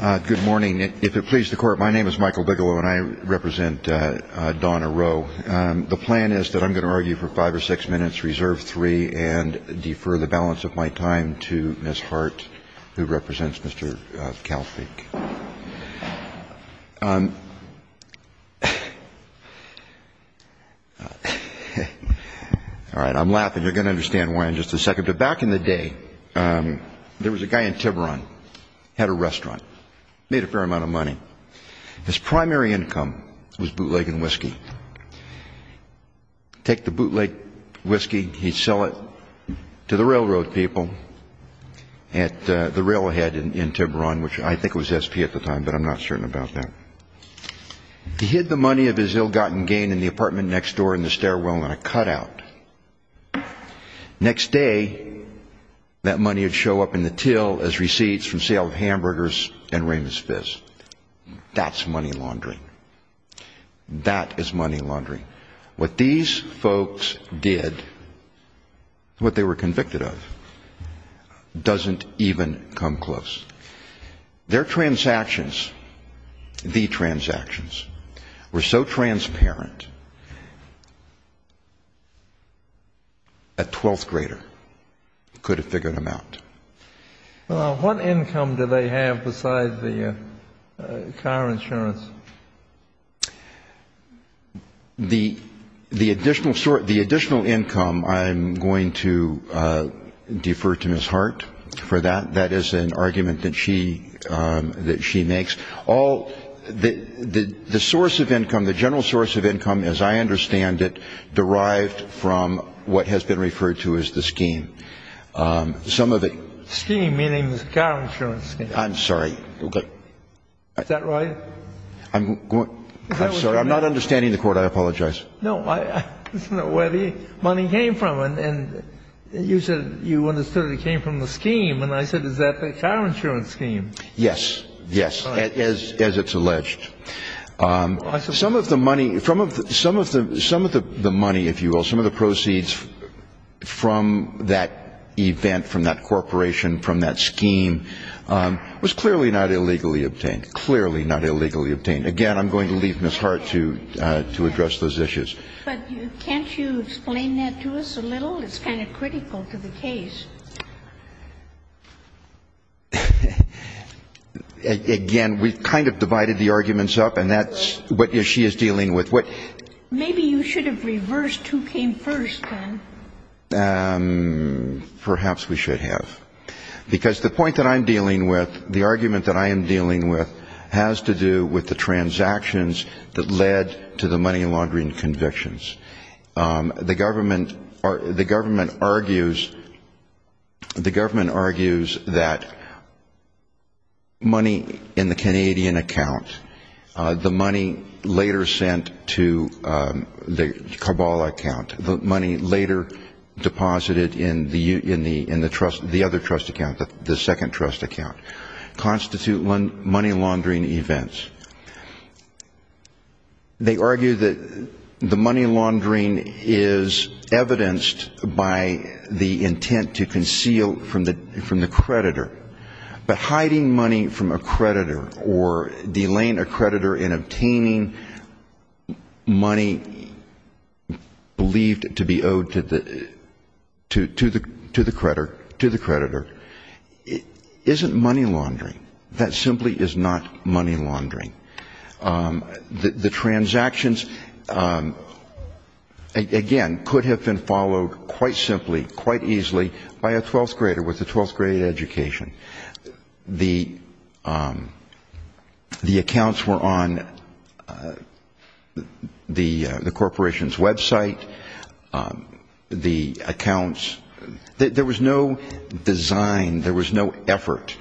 Good morning. If it pleases the Court, my name is Michael Bigelow and I represent Donna Rowe. The plan is that I'm going to argue for five or six minutes, reserve three, and defer the balance of my time to Ms. Hart, who represents Mr. Kalfsbeek. All right, I'm laughing. You're going to understand why in just a second. Back in the day, there was a guy in Tiburon, had a restaurant, made a fair amount of money. His primary income was bootlegging whiskey. Take the bootleg whiskey, he'd sell it to the railroad people at the railhead in Tiburon, which I think was SP at the time, but I'm not certain about that. He hid the money of his ill-gotten gain in the apartment next door in the stairwell in a cutout. Next day, that money would show up in the till as receipts from sale of hamburgers and Raymond's Fizz. That's money laundering. That is money laundering. What these folks did, what they were convicted of, doesn't even come close. Their transactions, the transactions, were so transparent, a 12th grader could have figured them out. Well, what income do they have besides the car insurance? The additional income, I'm going to defer to Ms. Hart for that. That is an argument that she makes. The source of income, the general source of income, as I understand it, derived from what has been referred to as the scheme. Scheme, meaning the car insurance scheme. I'm sorry. Is that right? I'm sorry. I'm not understanding the court. I apologize. No, I just don't know where the money came from. And you said you understood it came from the scheme. And I said, is that the car insurance scheme? Yes. Yes, as it's alleged. Some of the money, if you will, some of the proceeds from that event, from that corporation, from that scheme, was clearly not illegally obtained. Clearly not illegally obtained. Again, I'm going to leave Ms. Hart to address those issues. But can't you explain that to us a little? It's kind of critical to the case. Again, we've kind of divided the arguments up, and that's what she is dealing with. Maybe you should have reversed who came first, then. Perhaps we should have. Because the point that I'm dealing with, the argument that I am dealing with, has to do with the transactions that led to the money laundering convictions. The government argues that money in the Canadian account, the money later sent to the Kabbalah account, the money later deposited in the other trust account, the second trust account, constitute money laundering events. They argue that the money laundering is evidenced by the intent to conceal from the creditor. But hiding money from a creditor or delaying a creditor in obtaining money believed to be owed to the creditor isn't money laundering. That simply is not money laundering. The transactions, again, could have been followed quite simply, quite easily by a 12th grader with a 12th grade education. The accounts were on the corporation's website. The accounts, there was no design, there was no effort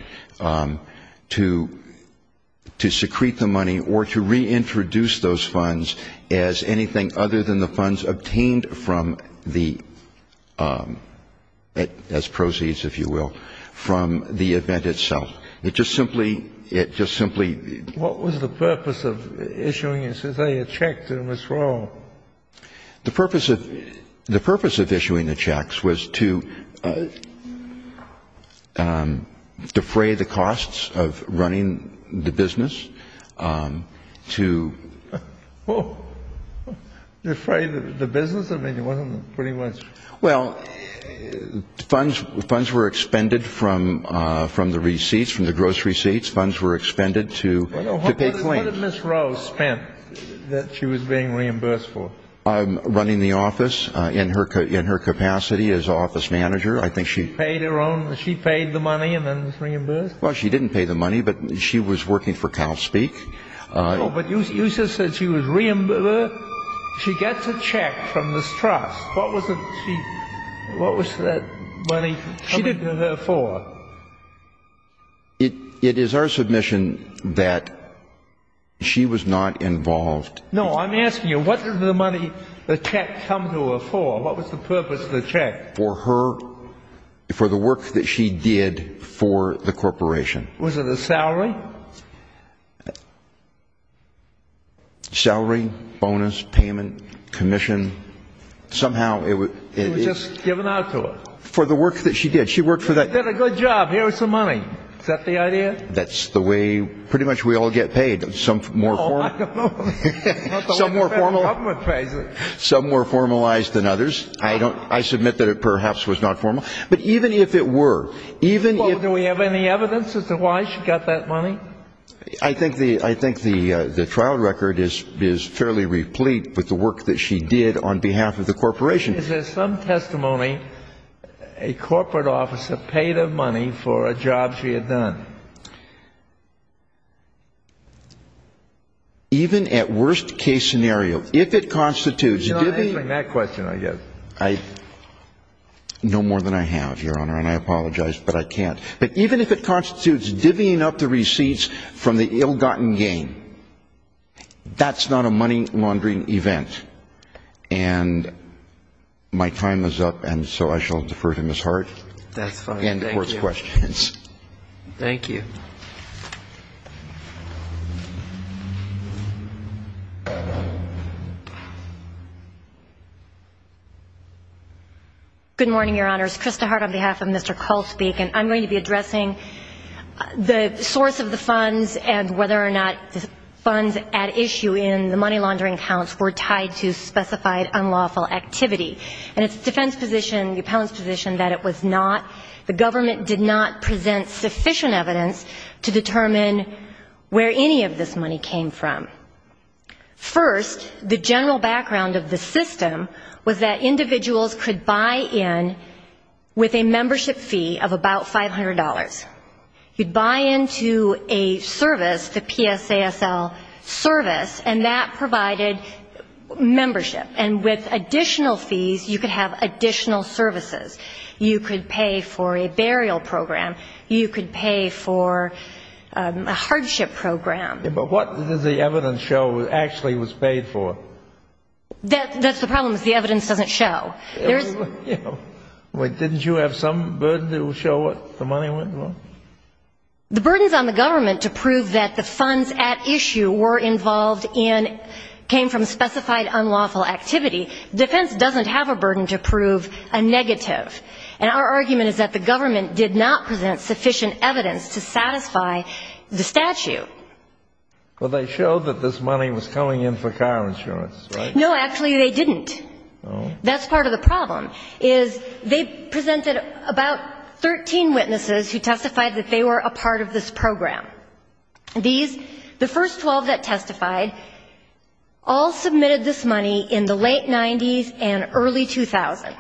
to secrete the money or to reintroduce those funds as anything other than the funds obtained from the, as proceeds, if you will, from the event itself. It just simply, it just simply... What was the purpose of issuing, say, a check to Ms. Rowe? The purpose of issuing the checks was to defray the costs of running the business, to... To defray the business? I mean, it wasn't pretty much... Well, funds were expended from the receipts, from the gross receipts, funds were expended to pay claims. What had Ms. Rowe spent that she was being reimbursed for? Running the office, in her capacity as office manager, I think she... She paid her own, she paid the money and then was reimbursed? Well, she didn't pay the money, but she was working for Calspeak. No, but you just said she was reimbursed, she gets a check from this trust, what was that money coming to her for? It is our submission that she was not involved... No, I'm asking you, what did the money, the check come to her for? What was the purpose of the check? For her, for the work that she did for the corporation. Was it a salary? Salary, bonus, payment, commission, somehow it was... She was just given out to her? For the work that she did, she worked for that... She did a good job, here's some money, is that the idea? That's the way pretty much we all get paid, some more formal... Oh, I don't know, it's not the way the government pays it. Some more formalized than others, I submit that it perhaps was not formal, but even if it were, even if... Do we have any evidence as to why she got that money? I think the trial record is fairly replete with the work that she did on behalf of the corporation. Is there some testimony a corporate officer paid her money for a job she had done? Even at worst case scenario, if it constitutes... You're not answering that question, I guess. No more than I have, Your Honor, and I apologize, but I can't. But even if it constitutes divvying up the receipts from the ill-gotten gain, that's not a money laundering event. And my time is up, and so I shall defer to Ms. Hart. That's fine, thank you. And the Court's questions. Thank you. Good morning, Your Honors. Krista Hart on behalf of Mr. Cole speaking. I'm going to be addressing the source of the funds and whether or not the funds at issue in the money laundering accounts were tied to specified unlawful activity. And it's the defense position, the appellant's position, that it was not, the government did not present sufficient evidence to determine where any of this money came from. First, the general background of the system was that individuals could buy in with a membership fee of about $500. You'd buy into a service, the PSASL service, and that provided membership. And with additional fees, you could have additional services. You could pay for a burial program. You could pay for a hardship program. But what does the evidence show actually was paid for? That's the problem is the evidence doesn't show. Wait, didn't you have some burden to show what the money went for? The burdens on the government to prove that the funds at issue were involved in, came from specified unlawful activity, defense doesn't have a burden to prove a negative. And our argument is that the government did not present sufficient evidence to satisfy the statute. Well, they showed that this money was coming in for car insurance, right? No, actually they didn't. That's part of the problem is they presented about 13 witnesses who testified that they were a part of this program. These, the first 12 that testified, all submitted this money in the late 90s and early 2000.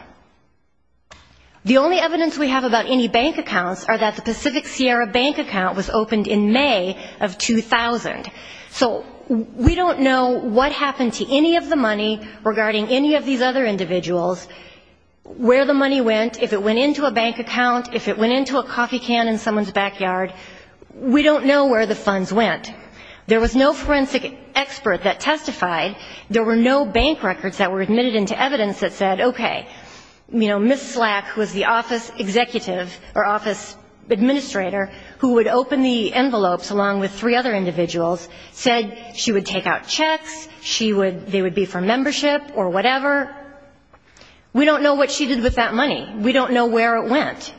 The only evidence we have about any bank accounts are that the Pacific Sierra bank account was opened in May of 2000. So we don't know what happened to any of the money regarding any of these other individuals, where the money went, if it went into a bank account, if it went into a coffee can in someone's backyard. We don't know where the funds went. There was no forensic expert that testified. There were no bank records that were admitted into evidence that said, okay, you know, Ms. Slack was the office executive or office administrator who would open the envelopes along with three other individuals, said she would take out checks, she would, they would be for membership or whatever. We don't know what she did with that money. We don't know where it went.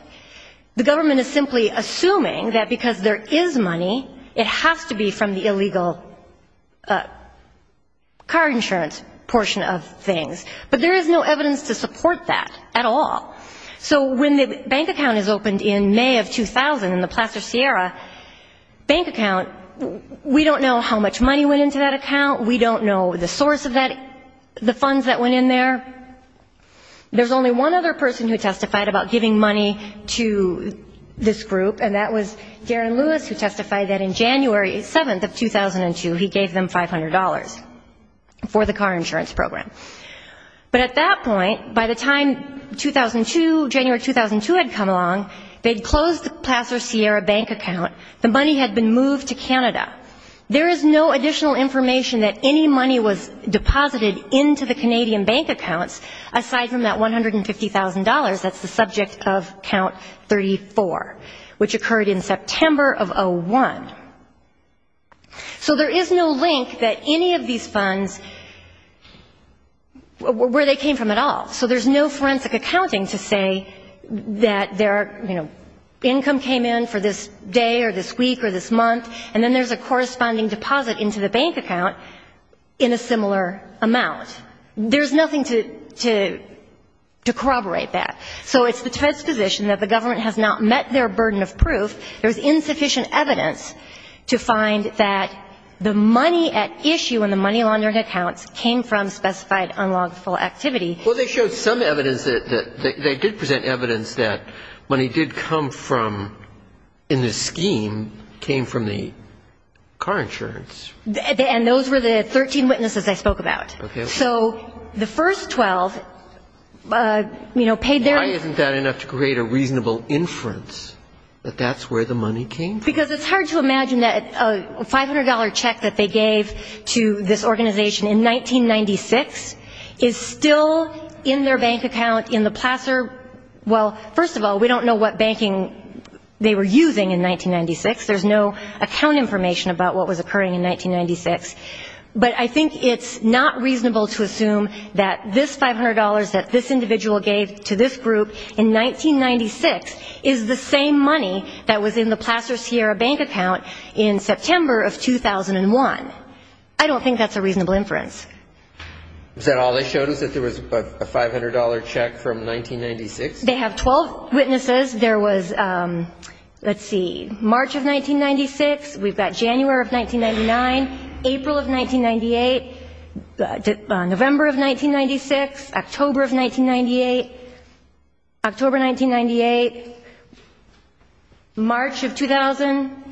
The government is simply assuming that because there is money, it has to be from the illegal car insurance portion of things. But there is no evidence to support that at all. So when the bank account is opened in May of 2000 in the Placer Sierra bank account, we don't know how much money went into that account. We don't know the source of that, the funds that went in there. There's only one other person who testified about giving money to this group, and that was Darren Lewis who testified that in January 7th of 2002, he gave them $500 for the car insurance program. But at that point, by the time 2002, January 2002 had come along, they had closed the Placer Sierra bank account. The money had been moved to Canada. There is no additional information that any money was deposited into the Canadian bank accounts aside from that $150,000 that's the subject of Count 34, which occurred in September of 2001. So there is no link that any of these funds, where they came from at all. So there's no forensic accounting to say that their, you know, income came in for this day or this week or this month, and then there's a corresponding deposit into the bank account in a similar amount. There's nothing to corroborate that. So it's the defense position that the government has not met their burden of proof. There's insufficient evidence to find that the money at issue in the money laundering accounts came from specified unlawful activity. Well, they showed some evidence that they did present evidence that money did come from in the scheme came from the car insurance. And those were the 13 witnesses I spoke about. So the first 12, you know, paid their own. Why isn't that enough to create a reasonable inference that that's where the money came from? Because it's hard to imagine that a $500 check that they gave to this organization in 1996 is still in their bank account in the Placer. Well, first of all, we don't know what banking they were using in 1996. There's no account information about what was occurring in 1996. But I think it's not reasonable to assume that this $500 that this individual gave to this group in 1996 is the same money that was in the Placer Sierra bank account in September of 2001. I don't think that's a reasonable inference. Is that all they showed us, that there was a $500 check from 1996? They have 12 witnesses. There was, let's see, March of 1996. We've got January of 1999, April of 1998, November of 1996, October of 1998, October 1998, March of 2000,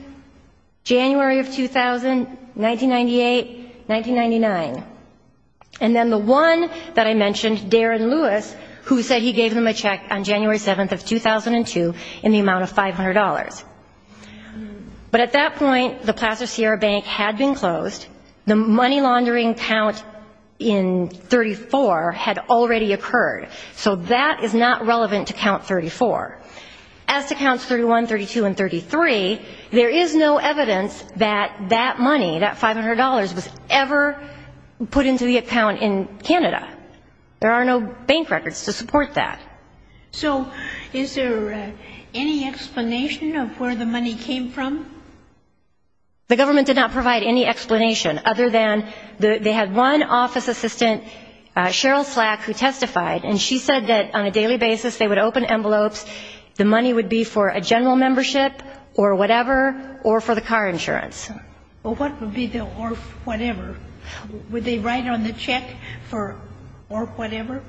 January of 2000, 1998, 1999. And then the one that I mentioned, Darren Lewis, who said he gave them a check on January 7th of 2002 in the amount of $500. But at that point, the Placer Sierra bank had been closed. The money laundering count in 34 had already occurred. So that is not relevant to count 34. As to counts 31, 32, and 33, there is no evidence that that money, that $500, was ever put into the account in Canada. There are no bank records to support that. So is there any explanation of where the money came from? The government did not provide any explanation other than they had one office assistant, Cheryl Slack, who testified, and she said that on a daily basis they would open envelopes. The money would be for a general membership or whatever, or for the car insurance. Well, what would be the or whatever? Would they write on the check for or whatever?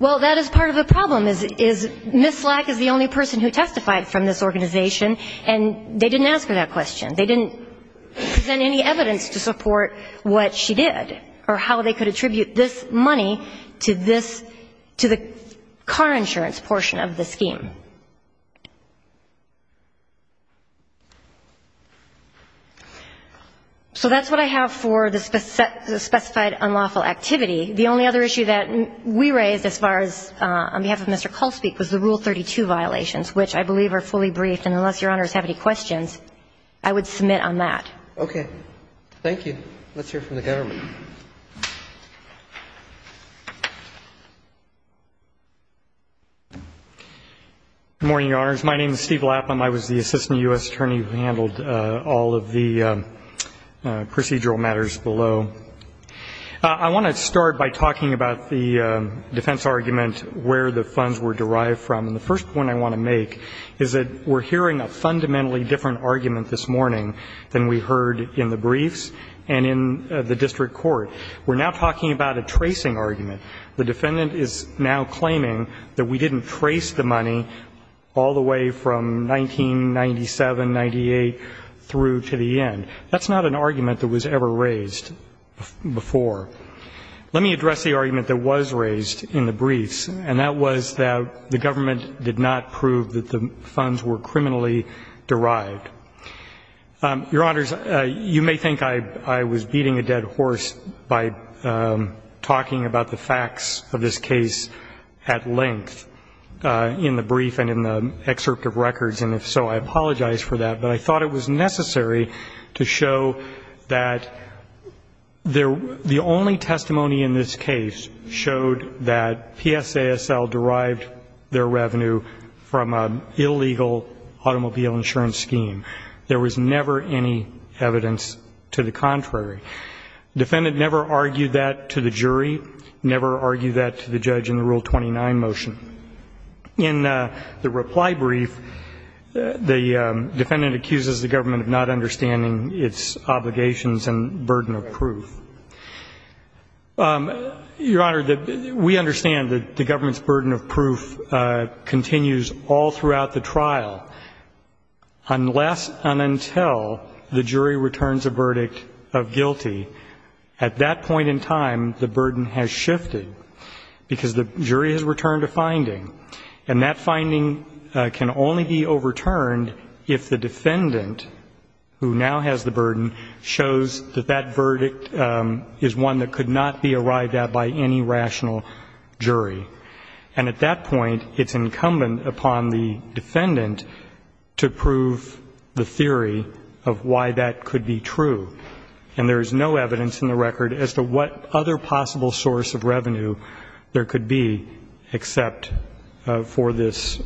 Well, that is part of the problem, is Ms. Slack is the only person who testified from this organization, and they didn't ask her that question. They didn't present any evidence to support what she did or how they could attribute this money to this, to the car insurance portion of the scheme. So that's what I have for the specified unlawful activity. The only other issue that we raised as far as on behalf of Mr. Culspeak was the Rule 32 violations, which I believe are fully briefed, and unless Your Honors have any questions, I would submit on that. Okay. Thank you. Let's hear from the government. Good morning, Your Honors. My name is Steve Lapham. I was the Assistant U.S. Attorney who handled all of the procedural matters below. I want to start by talking about the defense argument where the funds were derived from, and the first point I want to make is that we're hearing a fundamentally different argument this morning than we heard in the briefs and in the district court. We're now talking about a tracing argument. The defendant is now claiming that we didn't trace the money all the way from 1997, 1998 through to the end. That's not an argument that was ever raised before. Let me address the argument that was raised in the briefs, and that was that the government did not prove that the funds were criminally derived. Your Honors, you may think I was beating a dead horse by talking about the facts of this case at length in the brief and in the excerpt of records, and if so, I apologize for that, but I thought it was necessary to show that the only testimony in this case showed that PSASL derived their revenue from an illegal automobile insurance scheme. There was never any evidence to the contrary. The defendant never argued that to the jury, never argued that to the judge in the Rule 29 motion. In the reply brief, the defendant accuses the government of not understanding its obligations and burden of proof. Your Honor, we understand that the government's burden of proof continues all throughout the trial unless and until the jury returns a verdict of guilty. At that point in time, the burden has shifted because the jury has returned a finding, and that finding can only be overturned if the defendant, who now has the burden, shows that that verdict is one that could not be arrived at by any rational jury. And at that point, it's incumbent upon the defendant to prove the theory of why that could be true. And there is no evidence in the record as to what other possible source of revenue there could be except for this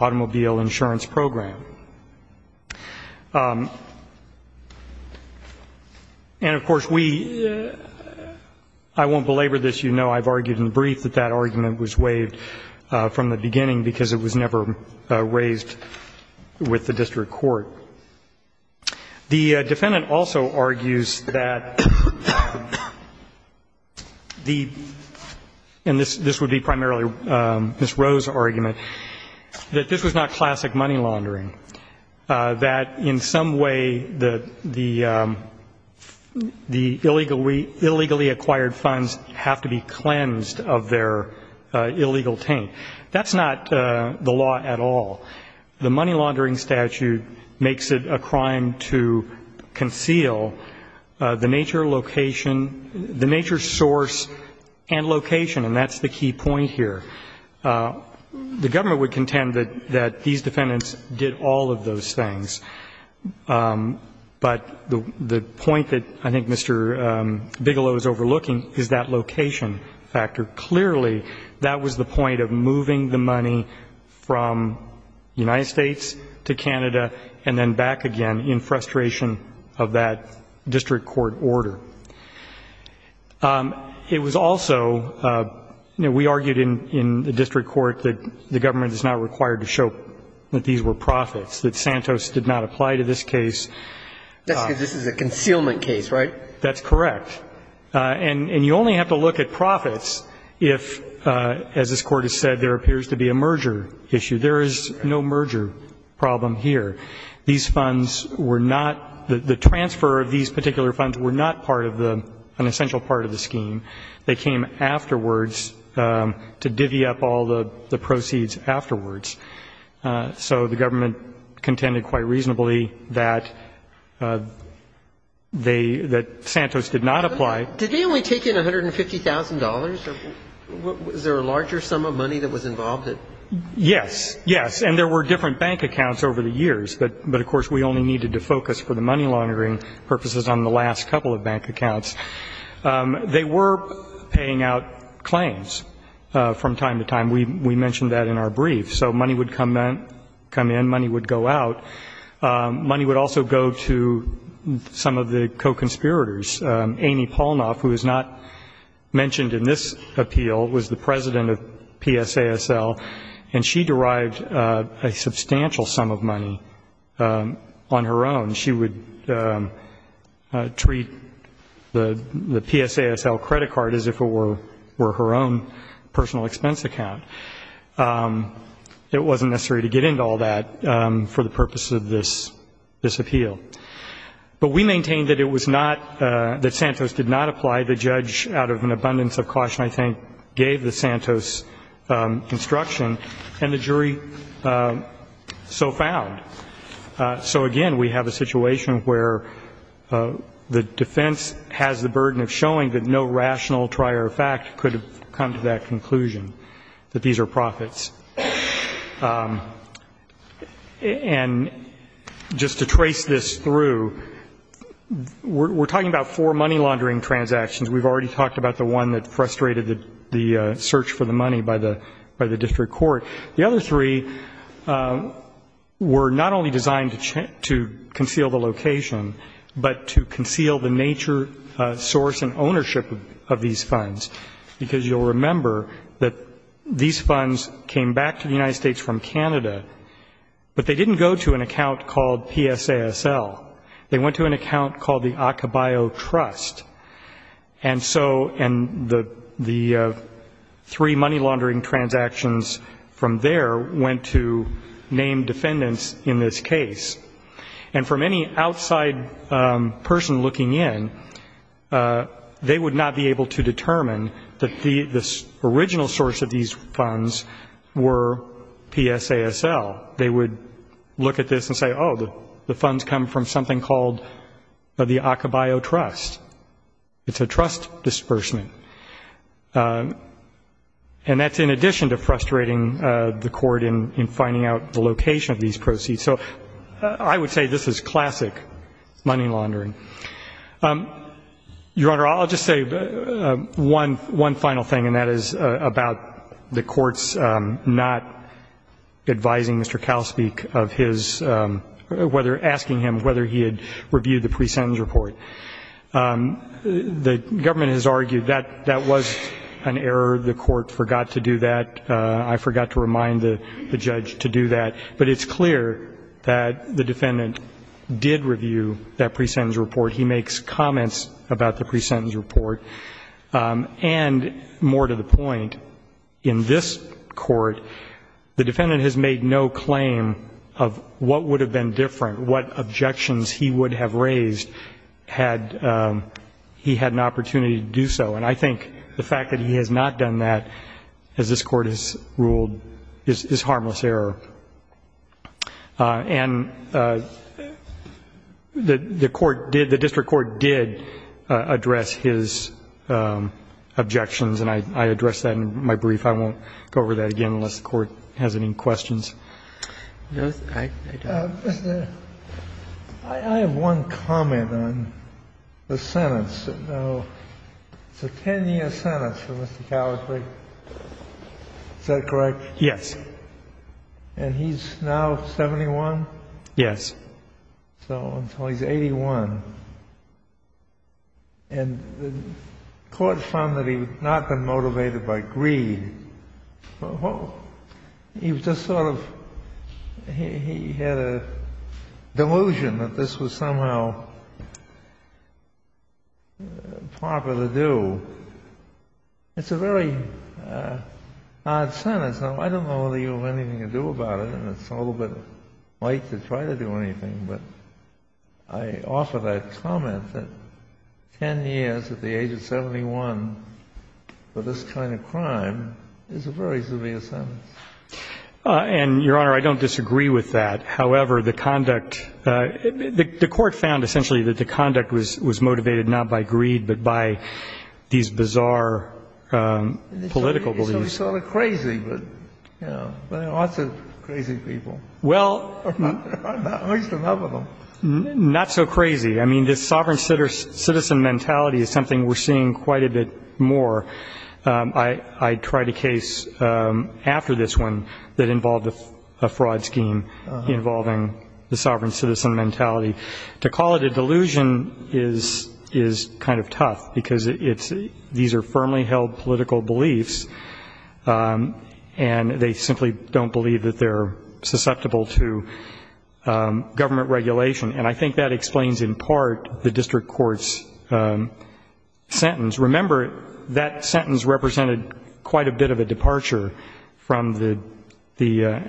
automobile insurance program. And, of course, we, I won't belabor this. You know I've argued in the brief that that argument was waived from the beginning because it was never raised with the district court. The defendant also argues that the, and this would be primarily Ms. Roe's argument, that this was not classic money laundering, that in some way the illegally acquired funds have to be cleansed of their illegal taint. That's not the law at all. The money laundering statute makes it a crime to conceal the nature location, the nature source and location, and that's the key point here. The government would contend that these defendants did all of those things. But the point that I think Mr. Bigelow is overlooking is that location factor. Clearly that was the point of moving the money from the United States to Canada and then back again in frustration of that district court order. It was also, you know, we argued in the district court that the government is not required to show that these were profits, that Santos did not apply to this case. That's because this is a concealment case, right? That's correct. And you only have to look at profits if, as this Court has said, there appears to be a merger issue. There is no merger problem here. These funds were not, the transfer of these particular funds were not part of the, an essential part of the scheme. They came afterwards to divvy up all the proceeds afterwards. So the government contended quite reasonably that they, that the Santos did not apply. Did they only take in $150,000? Was there a larger sum of money that was involved in it? Yes. Yes. And there were different bank accounts over the years. But, of course, we only needed to focus for the money laundering purposes on the last couple of bank accounts. They were paying out claims from time to time. We mentioned that in our brief. So money would come in, money would go out. Money would also go to some of the co-conspirators. Amy Polnoff, who is not mentioned in this appeal, was the president of PSASL. And she derived a substantial sum of money on her own. She would treat the PSASL credit card as if it were her own personal expense account. It wasn't necessary to get into all that for the purpose of this appeal. But we maintained that it was not, that Santos did not apply. The judge, out of an abundance of caution, I think, gave the Santos instruction, and the jury so found. So, again, we have a situation where the defense has the burden of showing that no rational trier of fact could have come to that conclusion, that these are profits. And just to trace this through, we're talking about four money laundering transactions. We've already talked about the one that frustrated the search for the money by the district court. The other three were not only designed to conceal the location, but to conceal the nature, source, and ownership of these funds. Because you'll remember that these funds came back to the United States from Canada, but they didn't go to an account called PSASL. They went to an account called the Acabio Trust. And so the three money laundering transactions from there went to named defendants in this case. And from any outside person looking in, they would not be able to determine that the original source of these funds were PSASL. They would look at this and say, oh, the funds come from something called the Acabio Trust. It's a trust disbursement. And that's in addition to frustrating the court in finding out the location of these proceeds. So I would say this is classic money laundering. Your Honor, I'll just say one final thing, and that is about the courts not advising Mr. Calspeak of his whether asking him whether he had reviewed the pre-sentence report. The government has argued that that was an error. The court forgot to do that. I forgot to remind the judge to do that. But it's clear that the defendant did review that pre-sentence report. He makes comments about the pre-sentence report. And more to the point, in this court, the defendant has made no claim of what would have been different, what objections he would have raised had he had an opportunity to do so. And I think the fact that he has not done that, as this court has ruled, is harmless error. And the court did, the district court did address his objections, and I addressed that in my brief. I won't go over that again unless the Court has any questions. I have one comment on the sentence. It's a 10-year sentence for Mr. Calspeak. Is that correct? Yes. And he's now 71? Yes. So until he's 81. And the court found that he had not been motivated by greed. He was just sort of, he had a delusion that this was somehow proper to do. It's a very odd sentence. Now, I don't know that you have anything to do about it, and it's a little bit late to try to do anything, but I offer that comment that 10 years at the age of 71 for this kind of crime is a very severe sentence. And, Your Honor, I don't disagree with that. However, the conduct, the court found essentially that the conduct was motivated not by greed, but by these bizarre political beliefs. It's sort of crazy, but, you know, there are lots of crazy people. I'm not hoisting up on them. Not so crazy. I mean, this sovereign citizen mentality is something we're seeing quite a bit more. I tried a case after this one that involved a fraud scheme involving the sovereign citizen mentality. To call it a delusion is kind of tough, because these are firmly held political beliefs, and they simply don't believe that they're susceptible to government regulation. And I think that explains in part the district court's sentence. Remember, that sentence represented quite a bit of a departure from the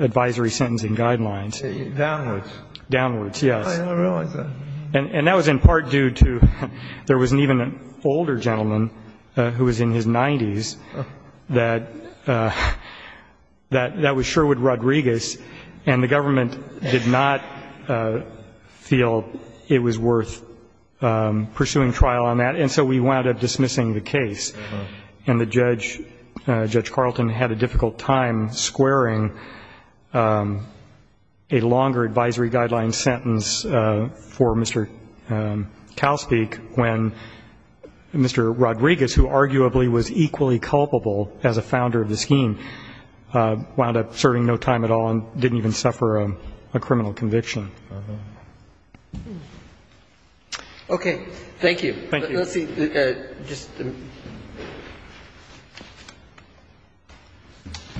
advisory sentencing guidelines. Downwards, yes. And that was in part due to there was even an older gentleman who was in his 90s that was Sherwood Rodriguez, and the government did not feel it was worth pursuing trial on that, and so we wound up dismissing the case. And the judge, Judge Carlton, had a difficult time squaring a longer advisory guideline sentence for Mr. Calspeak when Mr. Rodriguez, who arguably was equally culpable as a founder of the scheme, wound up serving no time at all and didn't even suffer a criminal conviction. Okay. Thank you. Let's see.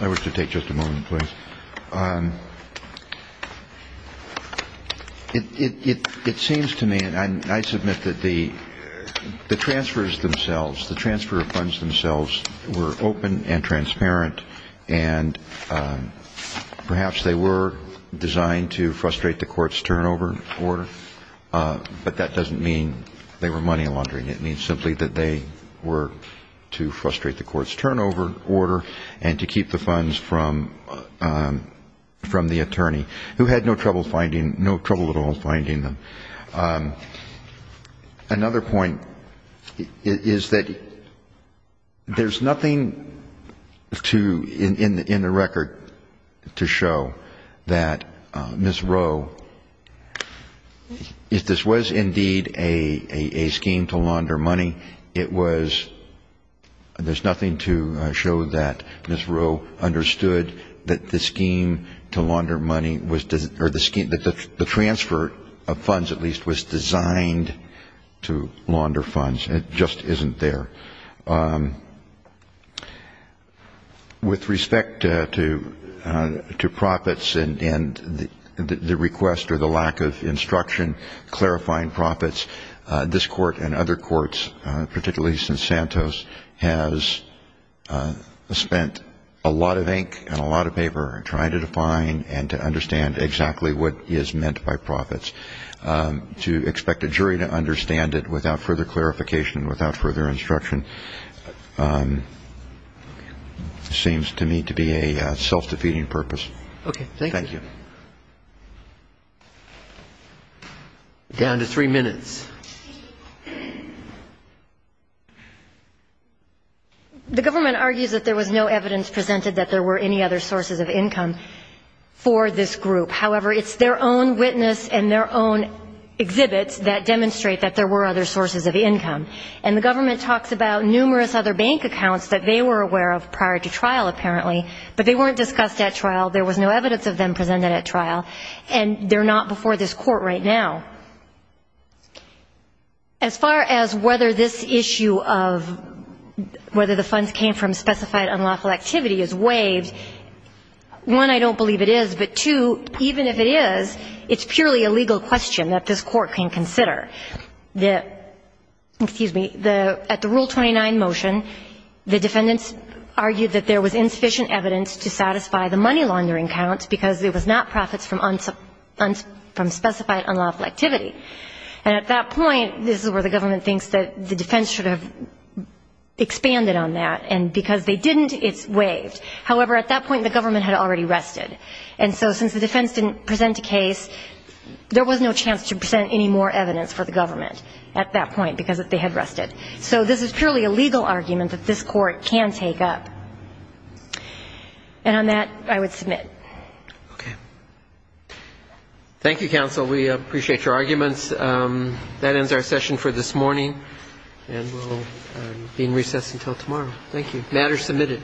I wish to take just a moment, please. It seems to me, and I submit that the transfers themselves, the transfer of funds themselves were open and transparent, and perhaps they were designed to frustrate the court's turnover order, but that doesn't mean they were money laundering. It means simply that they were to frustrate the court's turnover order and to keep the funds from the attorney, who had no trouble finding, no trouble at all finding them. I just wanted to, in the record, to show that Ms. Rowe, if this was indeed a scheme to launder money, it was, there's nothing to show that Ms. Rowe understood that the scheme to launder money, or the scheme, the transfer of funds at least, was designed to launder funds. It just isn't there. With respect to profits and the request or the lack of instruction clarifying profits, this Court and other courts, particularly since Santos, has spent a lot of ink and a lot of paper trying to define and to understand exactly what is meant by profits. To expect a jury to understand it without further clarification, without further instruction, seems to me to be a self-defeating purpose. Down to three minutes. The government argues that there was no evidence presented that there were any other sources of income for this group. However, it's their own witness and their own exhibits that demonstrate that there were other sources of income. And the government talks about numerous other bank accounts that they were aware of prior to trial, apparently, but they weren't discussed at trial, there was no evidence of them presented at trial, and they're not before this Court right now. As far as whether this issue of whether the funds came from specified unlawful activity is waived, one, I don't believe it is, but two, even if it is, it's purely a legal question that this Court can consider. Excuse me. At the Rule 29 motion, the defendants argued that there was insufficient evidence to satisfy the money laundering counts because it was not profits from specified unlawful activity. And at that point, this is where the government thinks that the defense should have expanded on that, and because they didn't, it's waived. However, at that point, the government had already rested, and so since the defense didn't present a case, there was no chance to present any more evidence for the government at that point because they had rested. So this is purely a legal argument that this Court can take up. And on that, I would submit. Okay. Thank you, counsel. We appreciate your arguments. That ends our session for this morning, and we'll be in recess until tomorrow. Thank you. Matter submitted.